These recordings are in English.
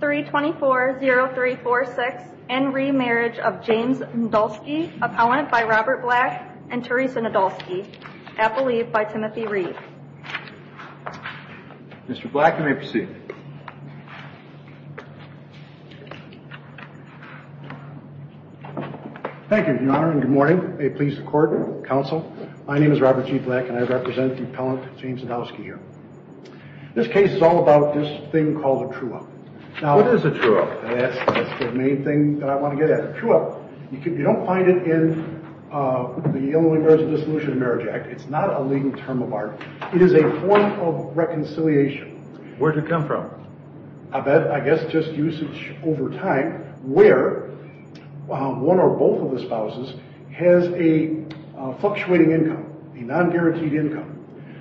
324-0346 N. Reeve Marriage of James Nadolski Appellant by Robert Black and Teresa Nadolski Appellate by Timothy Reeve Mr. Black, you may proceed. Thank you, Your Honor, and good morning. May it please the Court, Counsel, my name is Robert G. Black and I represent the Appellant James Nadolski here. This case is all about this thing called a true-up. What is a true-up? That's the main thing that I want to get at. A true-up, you don't find it in the Illinois Marriages of Dissolution and Marriage Act, it's not a legal term of art, it is a form of reconciliation. Where does it come from? I bet, I guess just usage over time, where one or both of the spouses has a fluctuating income, a non-guaranteed income.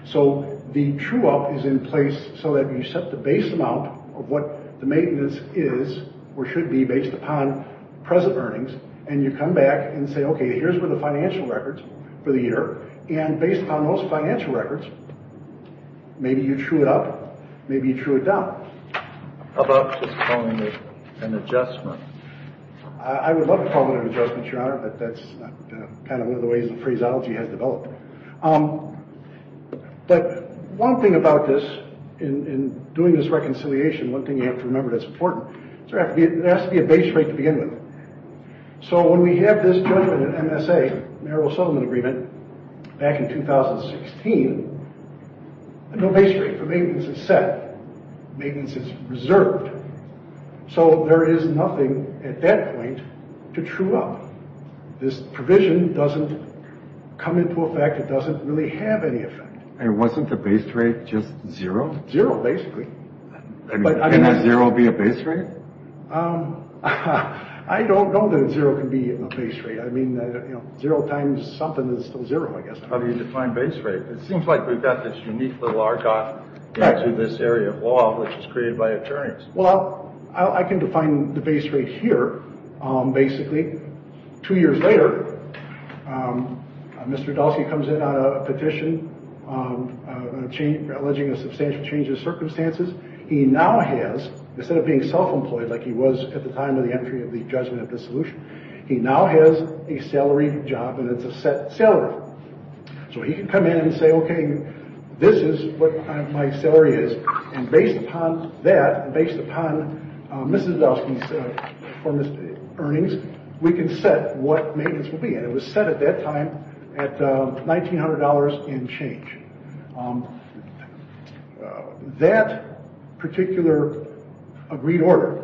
So the true-up is in place so that you set the base amount of what the maintenance is or should be based upon present earnings, and you come back and say, okay, here's where the financial records for the year, and based on those financial records, maybe you true it up, maybe you true it down. How about just calling it an adjustment? I would love to call it an adjustment, Your Honor, but that's kind of one of the ways that phraseology has developed. But one thing about this, in doing this reconciliation, one thing you have to remember that's important, there has to be a base rate to begin with. So when we have this judgment in MSA, Marital Settlement Agreement, back in 2016, no base rate for maintenance is set, maintenance is reserved. So there is nothing at that point to true-up. This provision doesn't come into effect, it doesn't really have any effect. And wasn't the base rate just zero? Zero, basically. Can a zero be a base rate? I don't know that a zero can be a base rate. I mean, zero times something is still zero, I guess. How do you define base rate? It seems like we've got this unique little argot into this area of law, which is created by attorneys. Well, I can define the base rate here, basically. Two years later, Mr. Dahlke comes in on a petition alleging a substantial change of He now has, instead of being self-employed like he was at the time of the entry of the judgment of the solution, he now has a salary job and it's a set salary. So he can come in and say, okay, this is what my salary is. And based upon that, based upon Mrs. Dahlke's performance earnings, we can set what maintenance will be. And it was set at that time at $1,900 and change. That particular agreed order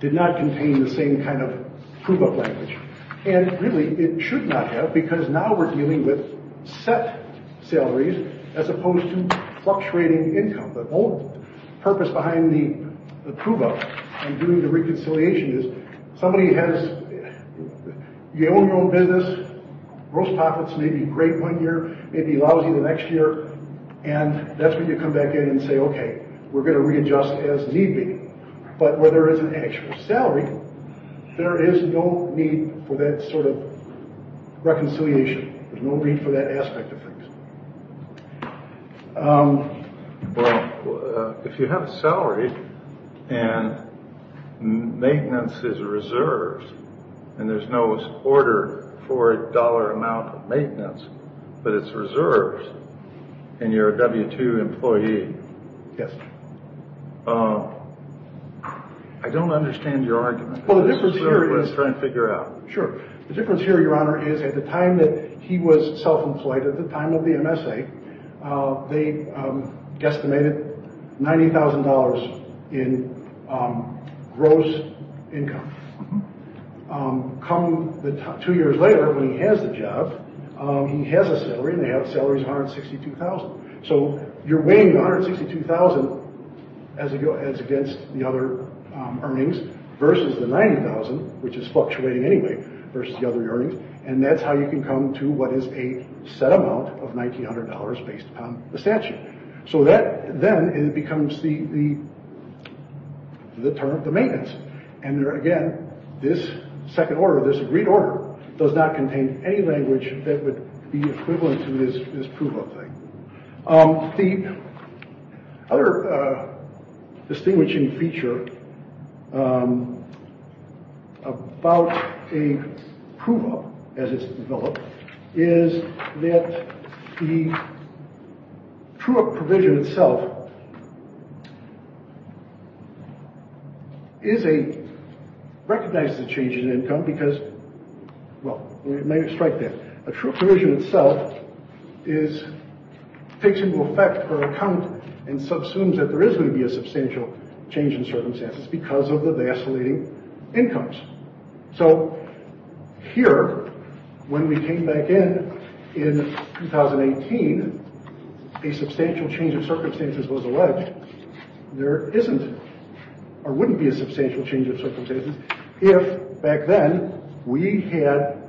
did not contain the same kind of prove-up language. And really, it should not have, because now we're dealing with set salaries as opposed to fluctuating income. The whole purpose behind the prove-up and doing the reconciliation is somebody has, you own your own business, gross profits may be great one year, may be lousy the next year, and that's when you come back in and say, okay, we're going to readjust as need be. But where there is an actual salary, there is no need for that sort of reconciliation. There's no need for that aspect of things. Well, if you have a salary and maintenance is reserves, and there's no order for a dollar amount of maintenance, but it's reserves, and you're a W-2 employee, I don't understand your argument. Well, the difference here is... Let's try and figure it out. Sure. The difference here, Your Honor, is at the time that he was self-employed, at the time of the MSA, they estimated $90,000 in gross income. Two years later, when he has the job, he has a salary, and they have salaries of $162,000. So you're weighing the $162,000 as against the other earnings versus the $90,000, which is fluctuating anyway, versus the other earnings. And that's how you can come to what is a set amount of $1,900 based upon the statute. So that then becomes the term of the maintenance. And again, this second order, this agreed order, does not contain any language that would be equivalent to this proof of thing. The other distinguishing feature about a proof-of, as it's developed, is that the true-of provision itself recognizes a change in income because, well, let me strike that. A true provision itself takes into effect or account and subsumes that there is going to be a substantial change in circumstances because of the vacillating incomes. So here, when we came back in, in 2018, a substantial change of circumstances was alleged. There isn't or wouldn't be a substantial change of circumstances if back then we had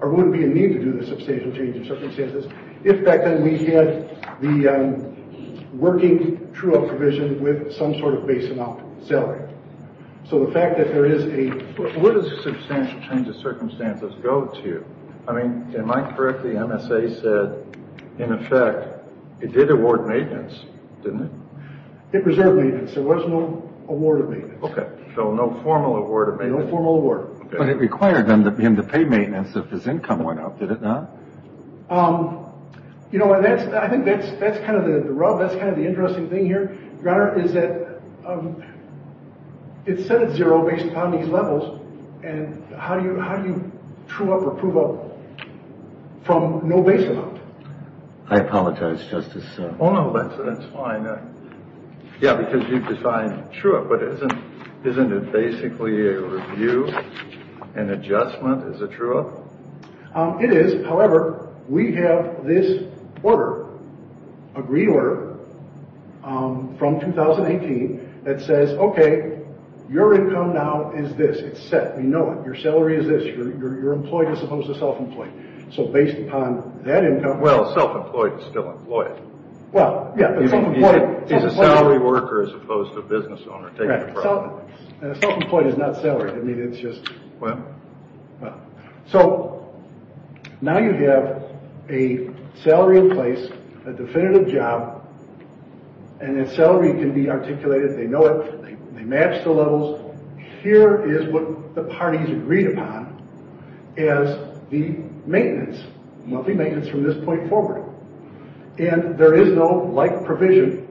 or wouldn't be a need to do the substantial change of circumstances if back then we had the working true-of provision with some sort of base amount salary. So the fact that there is a... Where does substantial change of circumstances go to? I mean, am I correct? The MSA said, in effect, it did award maintenance, didn't it? It reserved maintenance. There was no award of maintenance. Okay. So no formal award of maintenance. No formal award. But it required him to pay maintenance if his income went up, did it not? You know, I think that's kind of the rub. That's kind of the interesting thing here, Your Honor, is that it said it's zero based upon these levels, and how do you true-of or prove-of from no base amount? I apologize, Justice... Oh, no, that's fine. Yeah, because you've defined true-of. But isn't it basically a review, an adjustment? Is it true-of? It is. However, we have this order, agreed order, from 2018 that says, okay, your income now is this. It's set. We know it. Your salary is this. Your employee is supposed to self-employ. So based upon that income... Well, self-employed is still employed. Well, yeah, but self-employed... He's a salary worker as opposed to a business owner. Self-employed is not salaried. I mean, it's just... Well... So, now you have a salary in place, a definitive job, and then salary can be articulated. They know it. They match the levels. Here is what the parties agreed upon as the maintenance, monthly maintenance from this point forward. And there is no like provision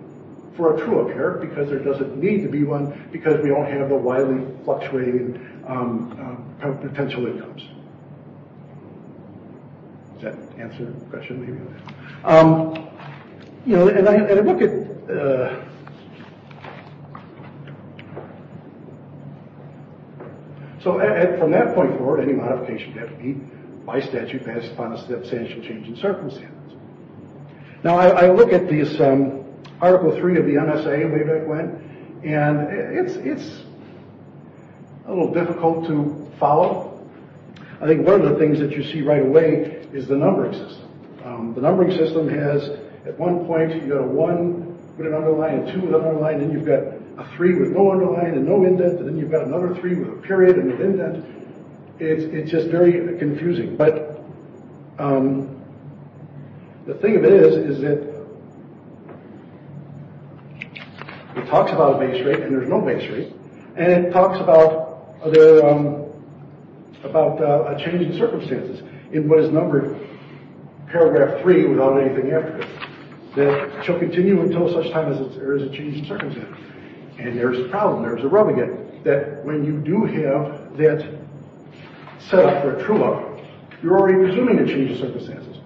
for a true-of here because there doesn't need to be one because we don't have the widely fluctuating potential incomes. Does that answer the question? Maybe not. You know, and I look at... So, from that point forward, any modification would have to be by statute passed upon a substantial change in circumstances. Now, I look at this Article 3 of the NSA way back when, and it's a little difficult to follow. I think one of the things that you see right away is the numbering system. The numbering system has, at one point, you've got a 1 with an underline, a 2 with an underline, then you've got a 3 with no underline and no indent, and then you've got another 3 with a period and an indent. It's just very confusing. But the thing of it is, is that it talks about a base rate and there's no base rate, and it talks about a change in circumstances in what is numbered paragraph 3 without anything after it. That shall continue until such time as there is a change in circumstances. And there's a problem, there's a rub again, that when you do have that setup for a true-of, you're already presuming a change in circumstances.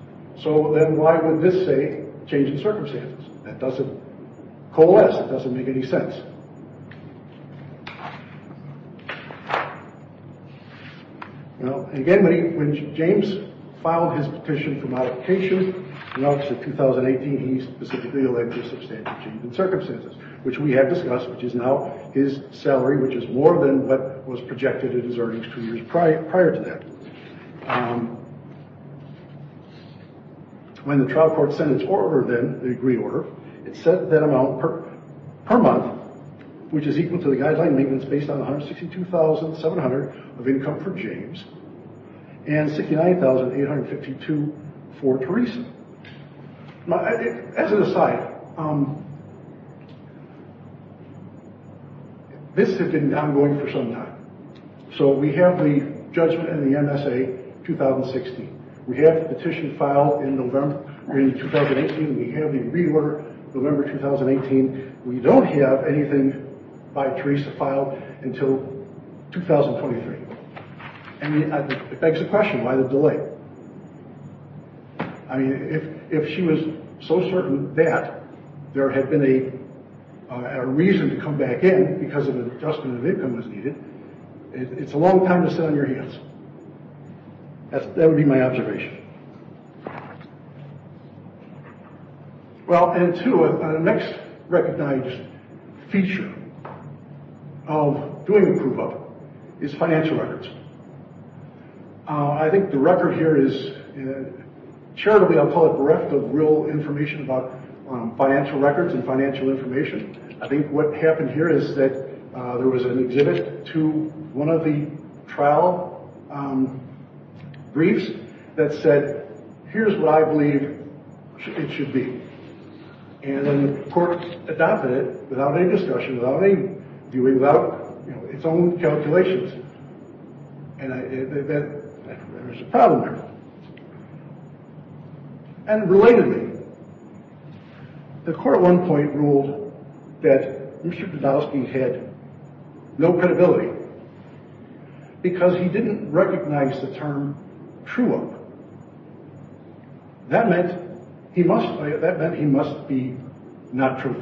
So then why would this say change in circumstances? That doesn't coalesce, it doesn't make any sense. Now, again, when James filed his petition for modification in August of 2018, he specifically elected a substantial change in circumstances, which we have discussed, which is now his salary, which is more than what was projected in his earnings two years prior to that. When the trial court sent its order then, the degree order, it said that amount per month, which is equal to the guideline maintenance based on $162,700 of income for James and $69,852 for Teresa. As an aside, this has been ongoing for some time. So we have the judgment in the MSA 2016. We have the petition filed in November 2018. We have the degree order November 2018. We don't have anything by Teresa filed until 2023. And it begs the question, why the delay? I mean, if she was so certain that there had been a reason to come back in because an adjustment of income was needed, it's a long time to sit on your hands. That would be my observation. Well, and two, the next recognized feature of doing a proof of is financial records. I think the record here is, charitably, I'll call it bereft of real information about financial records and financial information. I think what happened here is that there was an exhibit to one of the trial briefs that said, here's what I believe it should be. And then the court adopted it without any discussion, without any viewing, without its own calculations. And there was a problem there. And relatedly, the court at one point ruled that Richard Doudowsky had no credibility because he didn't recognize the term true-up. That meant he must be not true,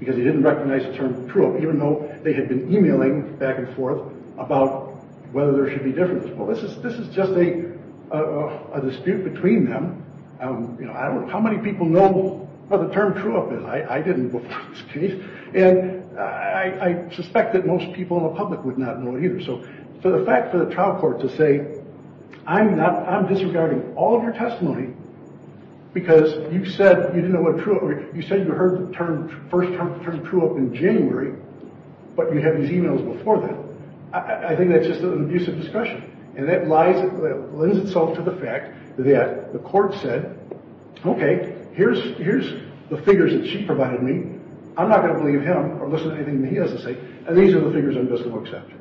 because he didn't recognize the term true-up, even though they had been emailing back and forth about whether there should be differences. Well, this is just a dispute between them. How many people know what the term true-up is? I didn't before this case. And I suspect that most people in the public would not know either. So for the fact for the trial court to say, I'm disregarding all of your testimony because you said you heard the first term true-up in January, but you had these emails before that, I think that's just an abuse of discretion. And that lends itself to the fact that the court said, OK, here's the figures that she provided me. I'm not going to believe him or listen to anything that he has to say. And these are the figures I'm just going to accept.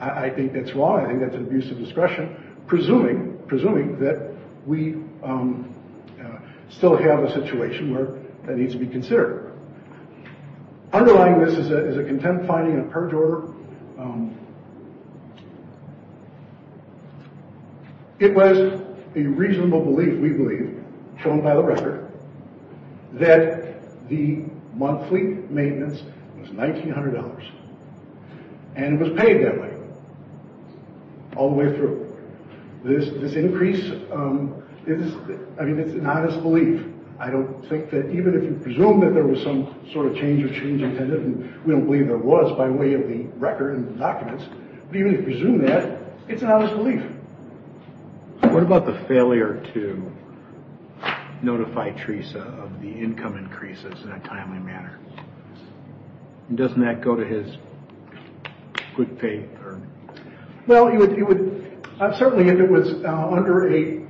I think that's wrong. I think that's an abuse of discretion, presuming that we still have a situation where that needs to be considered. Underlying this is a contempt finding and a purge order. It was a reasonable belief, we believe, shown by the record, that the monthly maintenance was $1,900. And it was paid that way, all the way through. This increase, I mean, it's an honest belief. I don't think that even if you presume that there was some sort of change of change intended, and we don't believe there was by way of the record and the documents, but even if you presume that, it's an honest belief. What about the failure to notify Teresa of the income increases in a timely manner? Doesn't that go to his quick pay? Well, it would. Certainly if it was under a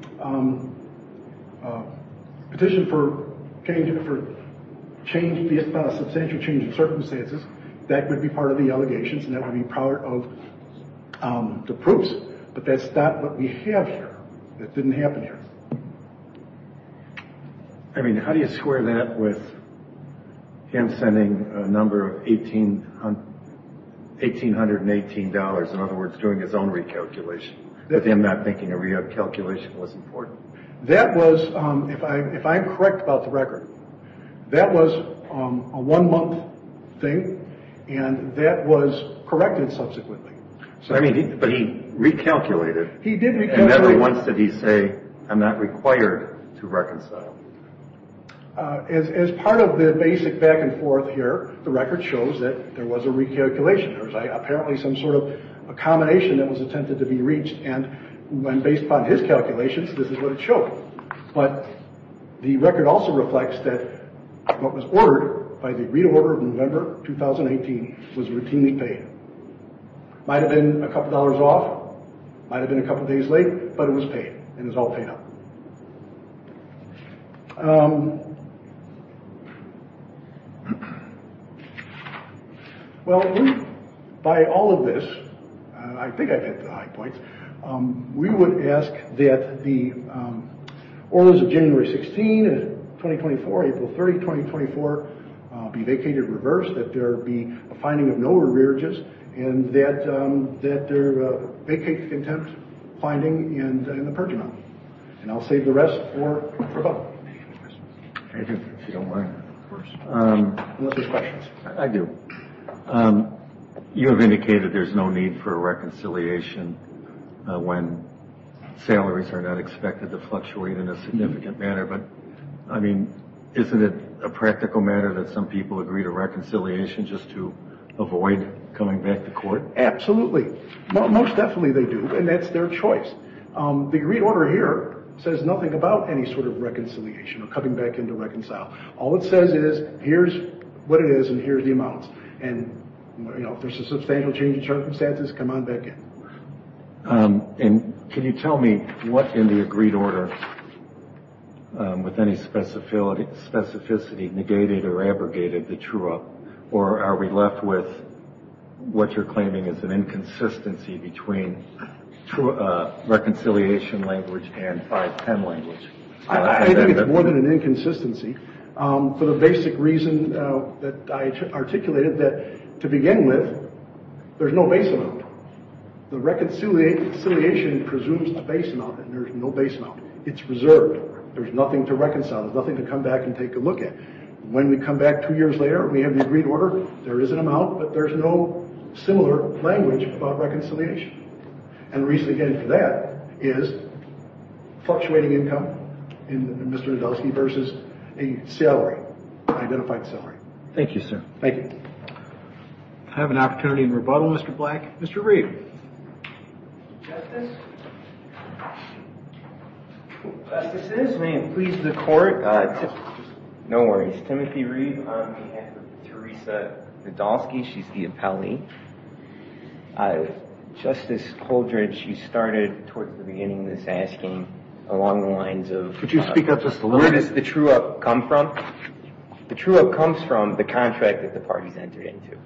petition for substantial change of circumstances, that would be part of the allegations and that would be part of the proofs. But that's not what we have here. It didn't happen here. I mean, how do you square that with him sending a number of $1,818, in other words, doing his own recalculation, with him not thinking a recalculation was important? That was, if I'm correct about the record, that was a one month thing and that was corrected subsequently. But he recalculated. He did recalculate. Never once did he say, I'm not required to reconcile. As part of the basic back and forth here, the record shows that there was a recalculation. There was apparently some sort of accommodation that was intended to be reached and based upon his calculations, this is what it showed. But the record also reflects that what was ordered by the reorder of November 2018 was routinely paid. Might have been a couple of dollars off, might have been a couple of days late, but it was paid and it was all paid up. Well, by all of this, I think I've hit the high points, we would ask that the orders of January 16, 2024, April 30, 2024, be vacated in reverse, that there be a finding of no arrearages and that there be a vacated contempt finding in the purge amount. And I'll save the rest for a vote. Unless there's questions. I do. You have indicated there's no need for reconciliation when salaries are not expected to fluctuate in a significant manner. But, I mean, isn't it a practical matter that some people agree to reconciliation just to avoid coming back to court? Absolutely. Most definitely they do. And that's their choice. The agreed order here says nothing about any sort of reconciliation or coming back in to reconcile. All it says is, here's what it is and here's the amounts. And if there's a substantial change in circumstances, come on back in. And can you tell me what in the agreed order, with any specificity, negated or abrogated the true up, or are we left with what you're claiming is an inconsistency between reconciliation language and 510 language? I think it's more than an inconsistency. For the basic reason that I articulated, that to begin with, there's no base amount. The reconciliation presumes the base amount and there's no base amount. It's reserved. There's nothing to reconcile. There's nothing to come back and take a look at. When we come back two years later, we have the agreed order, there is an amount, but there's no similar language about reconciliation. And the reason again for that is fluctuating income in Mr. Nadelsky versus a salary, identified salary. Thank you, sir. Thank you. I have an opportunity to rebuttal, Mr. Black. Mr. Reid. Justice? Justices, may it please the court. No worries. Timothy Reid on behalf of Teresa Nadelsky. She's the appellee. Justice Holdred, she started towards the beginning of this asking along the lines of- Could you speak up just a little? Where does the true up come from? The true up comes from the contract that the parties entered into.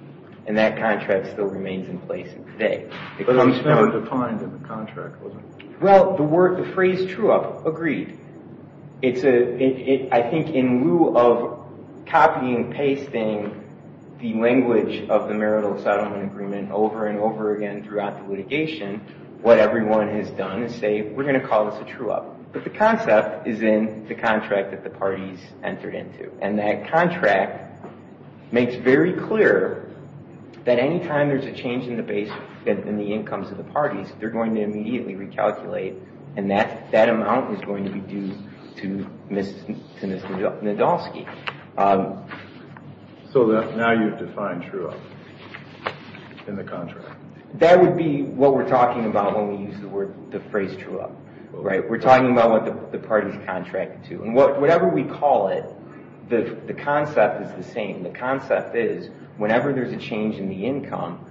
And that contract still remains in place today. It was never defined in the contract, was it? Well, the phrase true up, agreed. I think in lieu of copying and pasting the language of the marital settlement agreement over and over again throughout the litigation, what everyone has done is say, we're going to call this a true up. But the concept is in the contract that the parties entered into. And that contract makes very clear that any time there's a change in the base, in the incomes of the parties, they're going to immediately recalculate, and that amount is going to be due to Ms. Nadelsky. So now you've defined true up in the contract? That would be what we're talking about when we use the phrase true up. Right? We're talking about what the parties contracted to. And whatever we call it, the concept is the same. The concept is whenever there's a change in the income,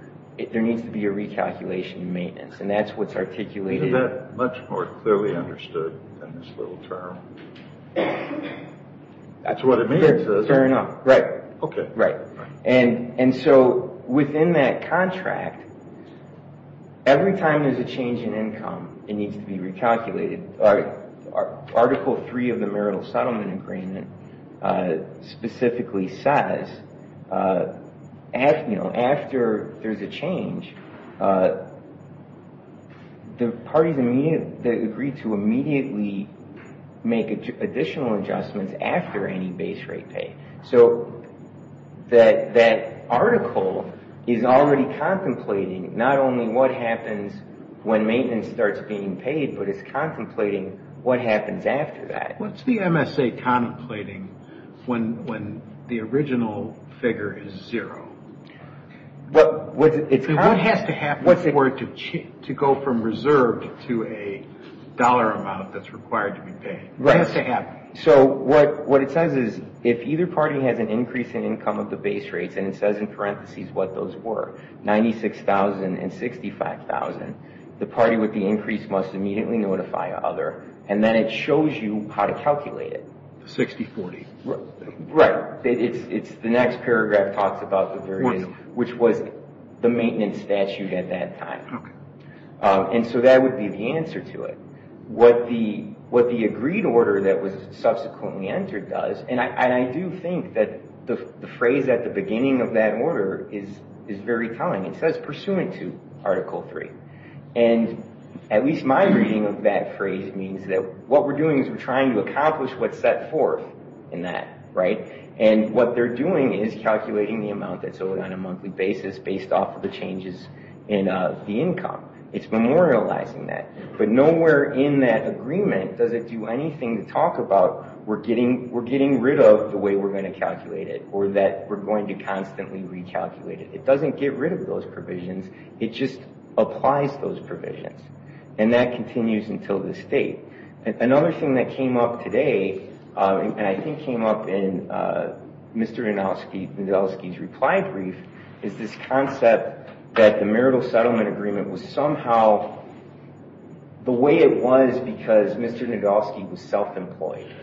there needs to be a recalculation in maintenance. And that's what's articulated- Is that much more clearly understood in this little term? That's what it means is- Fair enough. Right. Okay. Right. And so within that contract, every time there's a change in income, it needs to be recalculated. Article III of the Marital Settlement Agreement specifically says after there's a change, the parties that agree to immediately make additional adjustments after any base rate pay. So that article is already contemplating not only what happens when maintenance starts being paid, but it's contemplating what happens after that. What's the MSA contemplating when the original figure is zero? What has to happen for it to go from reserved to a dollar amount that's required to be paid? What has to happen? So what it says is if either party has an increase in income of the base rates, and it says in parentheses what those were, $96,000 and $65,000, the party with the increase must immediately notify other, and then it shows you how to calculate it. 60-40. Right. It's the next paragraph talks about the variance, which was the maintenance statute at that time. Okay. And so that would be the answer to it. What the agreed order that was subsequently entered does, and I do think that the phrase at the beginning of that order is very telling. It says pursuant to Article 3. And at least my reading of that phrase means that what we're doing is we're trying to accomplish what's set forth in that, right? And what they're doing is calculating the amount that's owed on a monthly basis based off of the changes in the income. It's memorializing that. But nowhere in that agreement does it do anything to talk about we're getting rid of the way we're going to calculate it or that we're going to constantly recalculate it. It doesn't get rid of those provisions. It just applies those provisions. And that continues until this date. Another thing that came up today, and I think came up in Mr. Nadolsky's reply brief, is this concept that the marital settlement agreement was somehow the way it was because Mr. Nadolsky was self-employed.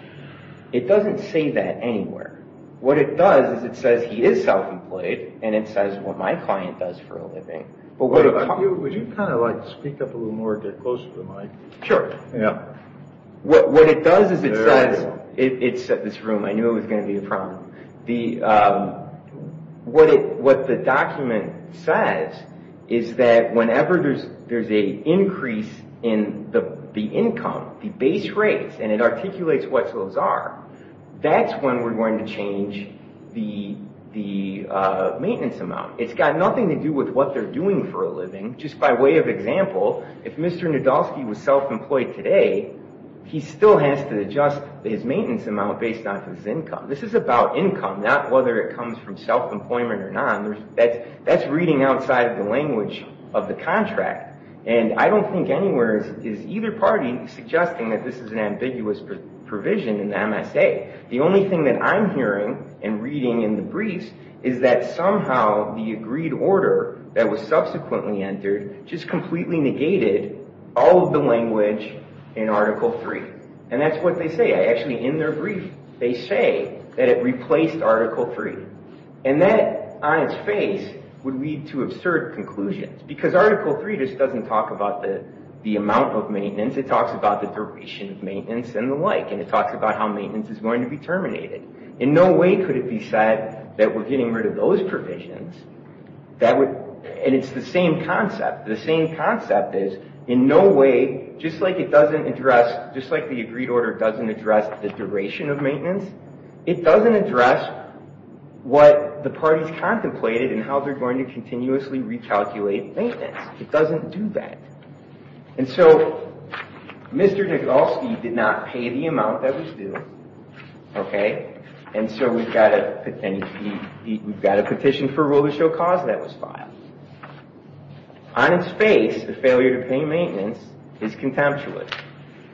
It doesn't say that anywhere. What it does is it says he is self-employed, and it says what my client does for a living. Would you kind of like speak up a little more and get closer to the mic? Sure. What it does is it says, it's at this room. I knew it was going to be a problem. What the document says is that whenever there's an increase in the income, the base rates, and it articulates what those are, that's when we're going to change the maintenance amount. It's got nothing to do with what they're doing for a living. Just by way of example, if Mr. Nadolsky was self-employed today, he still has to adjust his maintenance amount based on his income. This is about income, not whether it comes from self-employment or not. That's reading outside the language of the contract. I don't think anywhere is either party suggesting that this is an ambiguous provision in the MSA. The only thing that I'm hearing and reading in the briefs is that somehow the agreed order that was subsequently entered just completely negated all of the language in Article 3. That's what they say. Actually, in their brief, they say that it replaced Article 3. That, on its face, would lead to absurd conclusions because Article 3 just doesn't talk about the amount of maintenance. It talks about the duration of maintenance and the like, and it talks about how maintenance is going to be terminated. In no way could it be said that we're getting rid of those provisions. It's the same concept. The same concept is, in no way, just like the agreed order doesn't address the duration of maintenance, it doesn't address what the parties contemplated and how they're going to continuously recalculate maintenance. It doesn't do that. And so, Mr. Nadolsky did not pay the amount that was due, and so we've got a petition for rule-of-show cause that was filed. On its face, the failure to pay maintenance is contemptuous.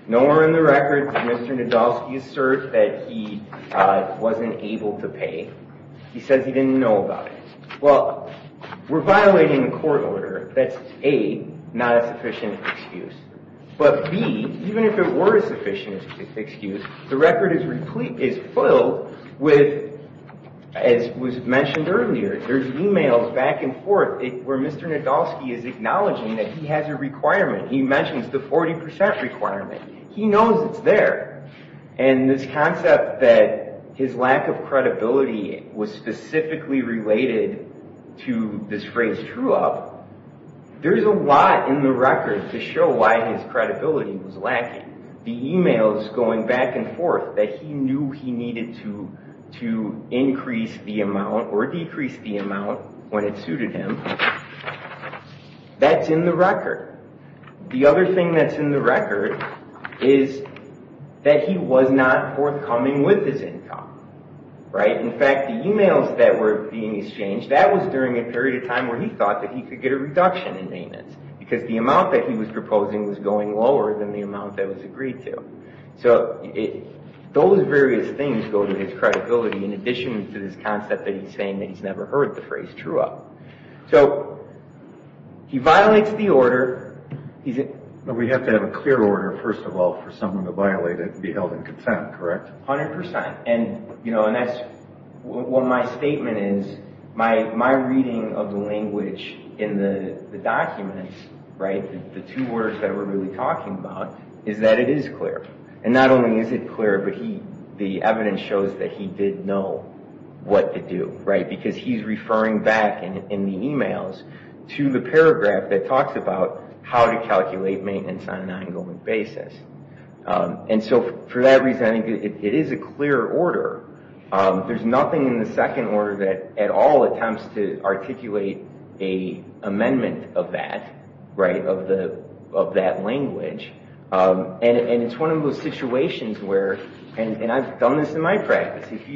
Nowhere in the records did Mr. Nadolsky assert that he wasn't able to pay. He says he didn't know about it. Well, we're violating the court order. That's A, not a sufficient excuse. But B, even if it were a sufficient excuse, the record is filled with, as was mentioned earlier, there's emails back and forth where Mr. Nadolsky is acknowledging that he has a requirement. He mentions the 40% requirement. He knows it's there. And this concept that his lack of credibility was specifically related to this phrase true-up, there's a lot in the record to show why his credibility was lacking. The emails going back and forth, that he knew he needed to increase the amount or decrease the amount when it suited him, that's in the record. The other thing that's in the record is that he was not forthcoming with his income. In fact, the emails that were being exchanged, that was during a period of time where he thought that he could get a reduction in payments because the amount that he was proposing was going lower than the amount that was agreed to. So those various things go to his credibility in addition to this concept that he's saying that he's never heard the phrase true-up. So he violates the order. We have to have a clear order, first of all, for someone to violate it to be held in contempt, correct? 100%. And that's what my statement is. My reading of the language in the documents, the two words that we're really talking about, is that it is clear. And not only is it clear, but the evidence shows that he did know what to do because he's referring back in the emails to the paragraph that talks about how to calculate maintenance on an ongoing basis. And so for that reason, I think it is a clear order. There's nothing in the second order that at all attempts to articulate an amendment of that, of that language. And it's one of those situations where, and I've done this in my practice, if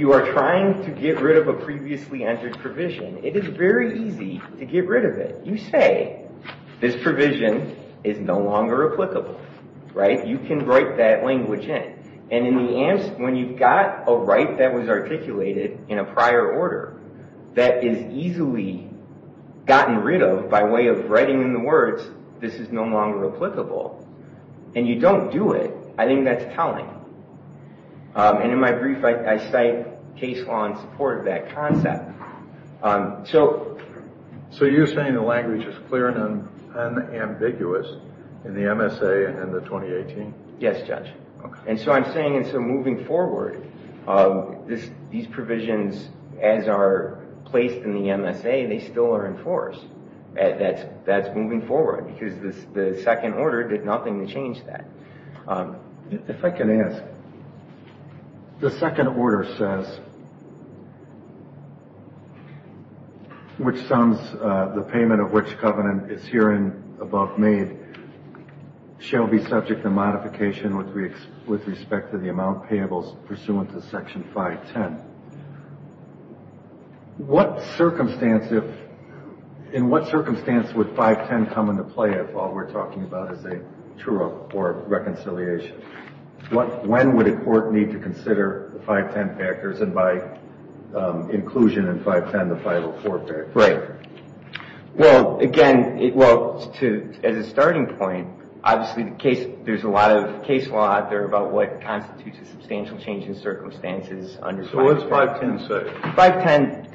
you are trying to get rid of a previously entered provision, it is very easy to get rid of it. You say, this provision is no longer applicable, right? You can write that language in. And when you've got a right that was articulated in a prior order that is easily gotten rid of by way of writing in the words, this is no longer applicable, and you don't do it, I think that's telling. And in my brief, I cite case law in support of that concept. So you're saying the language is clear and unambiguous in the MSA and the 2018? Yes, Judge. And so I'm saying, and so moving forward, these provisions, as are placed in the MSA, they still are enforced. That's moving forward because the second order did nothing to change that. If I can ask, the second order says, which sums the payment of which covenant is herein above made shall be subject to modification with respect to the amount payables pursuant to Section 510. In what circumstance would 510 come into play if all we're talking about is a true or reconciliation? When would a court need to consider the 510 factors and by inclusion in 510, the 504 factor? Well, again, as a starting point, obviously there's a lot of case law out there about what constitutes a substantial change in circumstances. So what's 510 say? 510,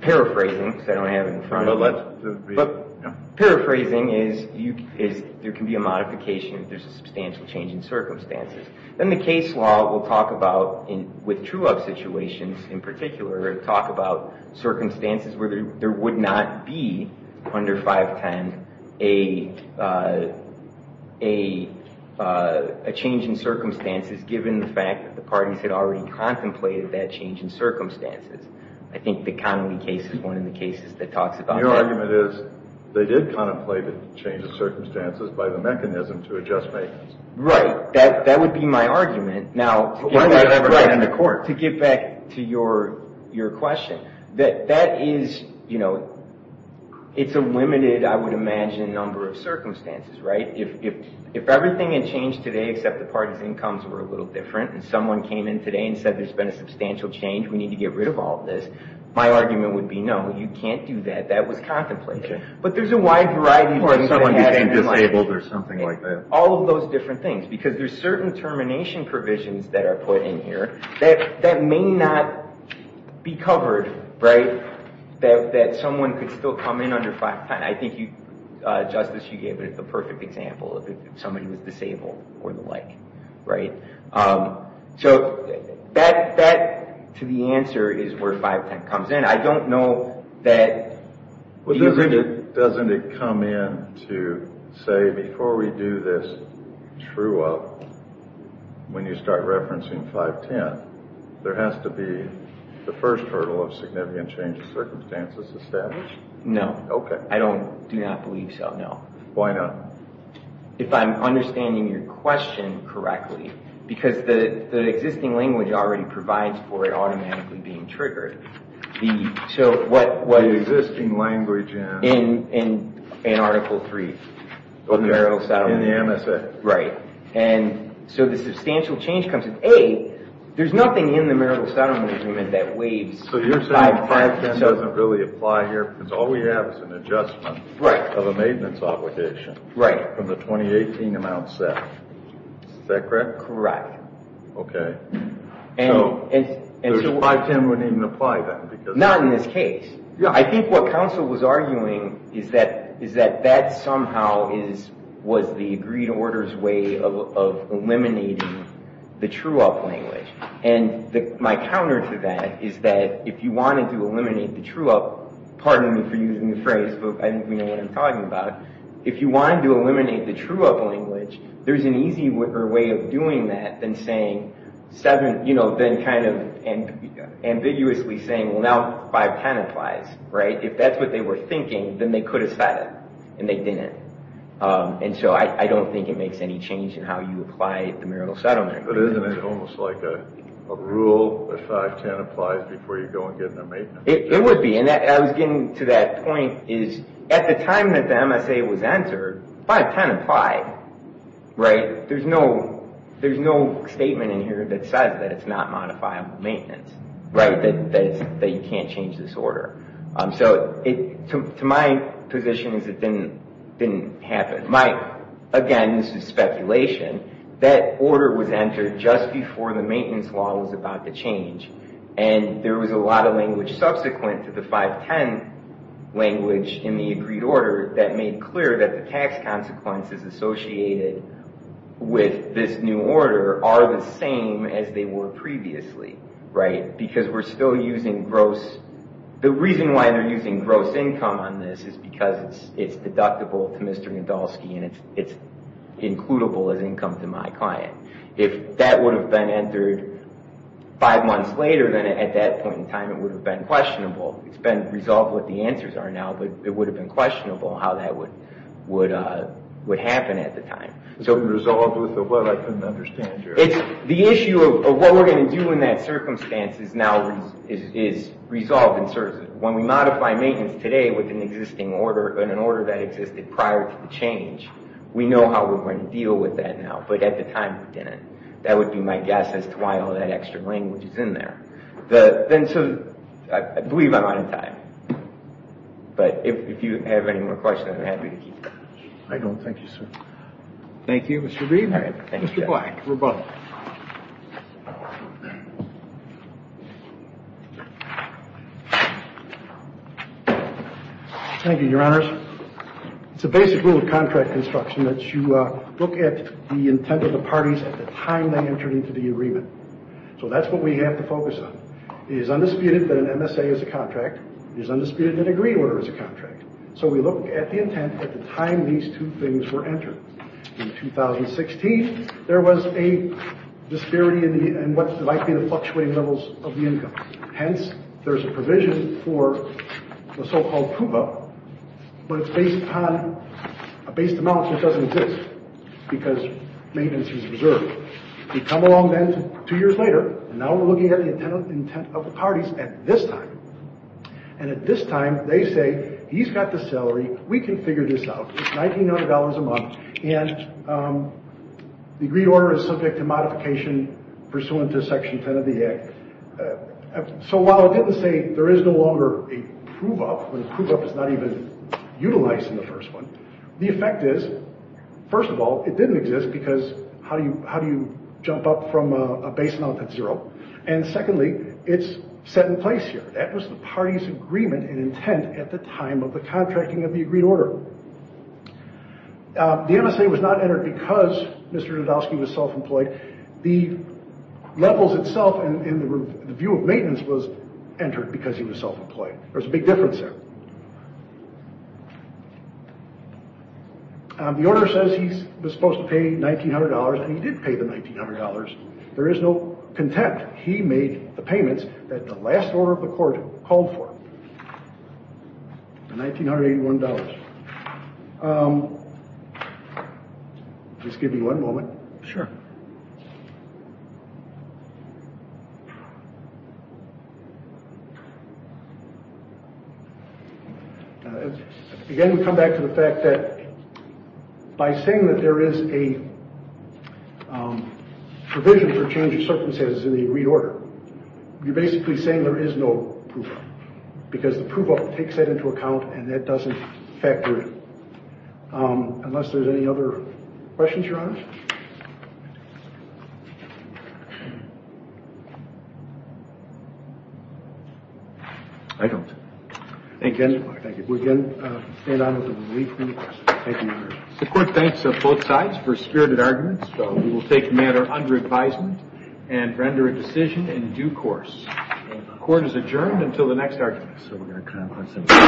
paraphrasing, because I don't have it in front of me, but paraphrasing is there can be a modification if there's a substantial change in circumstances. Then the case law will talk about, with true-of situations in particular, talk about circumstances where there would not be under 510 a change in circumstances given the fact that the parties had already contemplated that change in circumstances. I think the Connolly case is one of the cases that talks about that. My argument is they did contemplate a change in circumstances by the mechanism to adjust makings. Right. That would be my argument. But why would it ever get into court? To get back to your question, that is, you know, it's a limited, I would imagine, number of circumstances, right? If everything had changed today except the parties' incomes were a little different and someone came in today and said, there's been a substantial change, we need to get rid of all this, my argument would be no, you can't do that. That was contemplated. But there's a wide variety of things that happened in my case. Or someone became disabled or something like that. All of those different things. Because there's certain termination provisions that are put in here that may not be covered, right? That someone could still come in under 510. I think, Justice, you gave it the perfect example of if somebody was disabled or the like, right? So that, to the answer, is where 510 comes in. I don't know that... Doesn't it come in to say, before we do this true-up, when you start referencing 510, there has to be the first hurdle of significant change of circumstances established? No. I do not believe so, no. Why not? If I'm understanding your question correctly, because the existing language already provides for it automatically being triggered, the existing language in... In Article 3 of the Marital Settlement Agreement. In the MSA. Right. And so the substantial change comes in. A, there's nothing in the Marital Settlement Agreement that waives 510. So you're saying 510 doesn't really apply here because all we have is an adjustment of a maintenance obligation from the 2018 amount set. Is that correct? Correct. Okay. So 510 wouldn't even apply then? Not in this case. I think what counsel was arguing is that that somehow was the agreed order's way of eliminating the true-up language. And my counter to that is that if you wanted to eliminate the true-up, pardon me for using the phrase, but I didn't mean what I'm talking about, if you wanted to eliminate the true-up language, there's an easier way of doing that than kind of ambiguously saying, well, now 510 applies, right? If that's what they were thinking, then they could have said it, and they didn't. And so I don't think it makes any change in how you apply the Marital Settlement Agreement. But isn't it almost like a rule that 510 applies before you go and get a maintenance obligation? It would be. And I was getting to that point is at the time that the MSA was entered, 510 applied, right? There's no statement in here that says that it's not modifiable maintenance, right? That you can't change this order. So to my position is it didn't happen. Again, this is speculation. That order was entered just before the maintenance law was about to change. And there was a lot of language subsequent to the 510 language in the agreed order that made clear that the tax consequences associated with this new order are the same as they were previously, right? Because we're still using gross... The reason why they're using gross income on this is because it's deductible to Mr. Gandolski and it's includable as income to my client. If that would have been entered five months later, then at that point in time it would have been questionable. It's been resolved what the answers are now, but it would have been questionable how that would happen at the time. It's been resolved with what I couldn't understand. The issue of what we're going to do in that circumstance is now resolved. When we modify maintenance today with an existing order, an order that existed prior to the change, we know how we're going to deal with that now. But at the time we didn't. That would be my guess as to why all that extra language is in there. I believe I'm out of time. But if you have any more questions, I'm happy to keep going. I don't. Thank you, sir. Thank you, Mr. Green. Mr. Black, we're both. Thank you, Your Honors. It's a basic rule of contract construction that you look at the intent of the parties at the time they entered into the agreement. So that's what we have to focus on. It is undisputed that an MSA is a contract. It is undisputed that a green order is a contract. So we look at the intent at the time these two things were entered. In 2016, there was a disparity in what might be the fluctuating levels of the income. Hence, there's a provision for the so-called CUBA, but it's based on a base amount that doesn't exist because maintenance is reserved. We come along then two years later, and now we're looking at the intent of the parties at this time. And at this time, they say, he's got the salary, we can figure this out. It's $1,900 a month, and the green order is subject to modification pursuant to Section 10 of the Act. So while it didn't say there is no longer a CUBA, when CUBA is not even utilized in the first one, the effect is, first of all, it didn't exist because how do you jump up from a base amount at zero? And secondly, it's set in place here. That was the party's agreement and intent at the time of the contracting of the agreed order. The MSA was not entered because Mr. Nadolski was self-employed. The levels itself in the view of maintenance was entered because he was self-employed. There was a big difference there. The order says he was supposed to pay $1,900, and he did pay the $1,900. There is no contempt. He made the payments that the last order of the court called for, the $1,981. Just give me one moment. Again, we come back to the fact that by saying that there is a provision for change of circumstances in the agreed order, you're basically saying there is no proof of it because the proof of it takes that into account and that doesn't factor in. Unless there's any other questions, Your Honor? I don't. Thank you. We again stand on with a relief from the question. Thank you, Your Honor. The court thanks both sides for spirited arguments. We will take the matter under advisement and render a decision in due course. The court is adjourned until the next argument.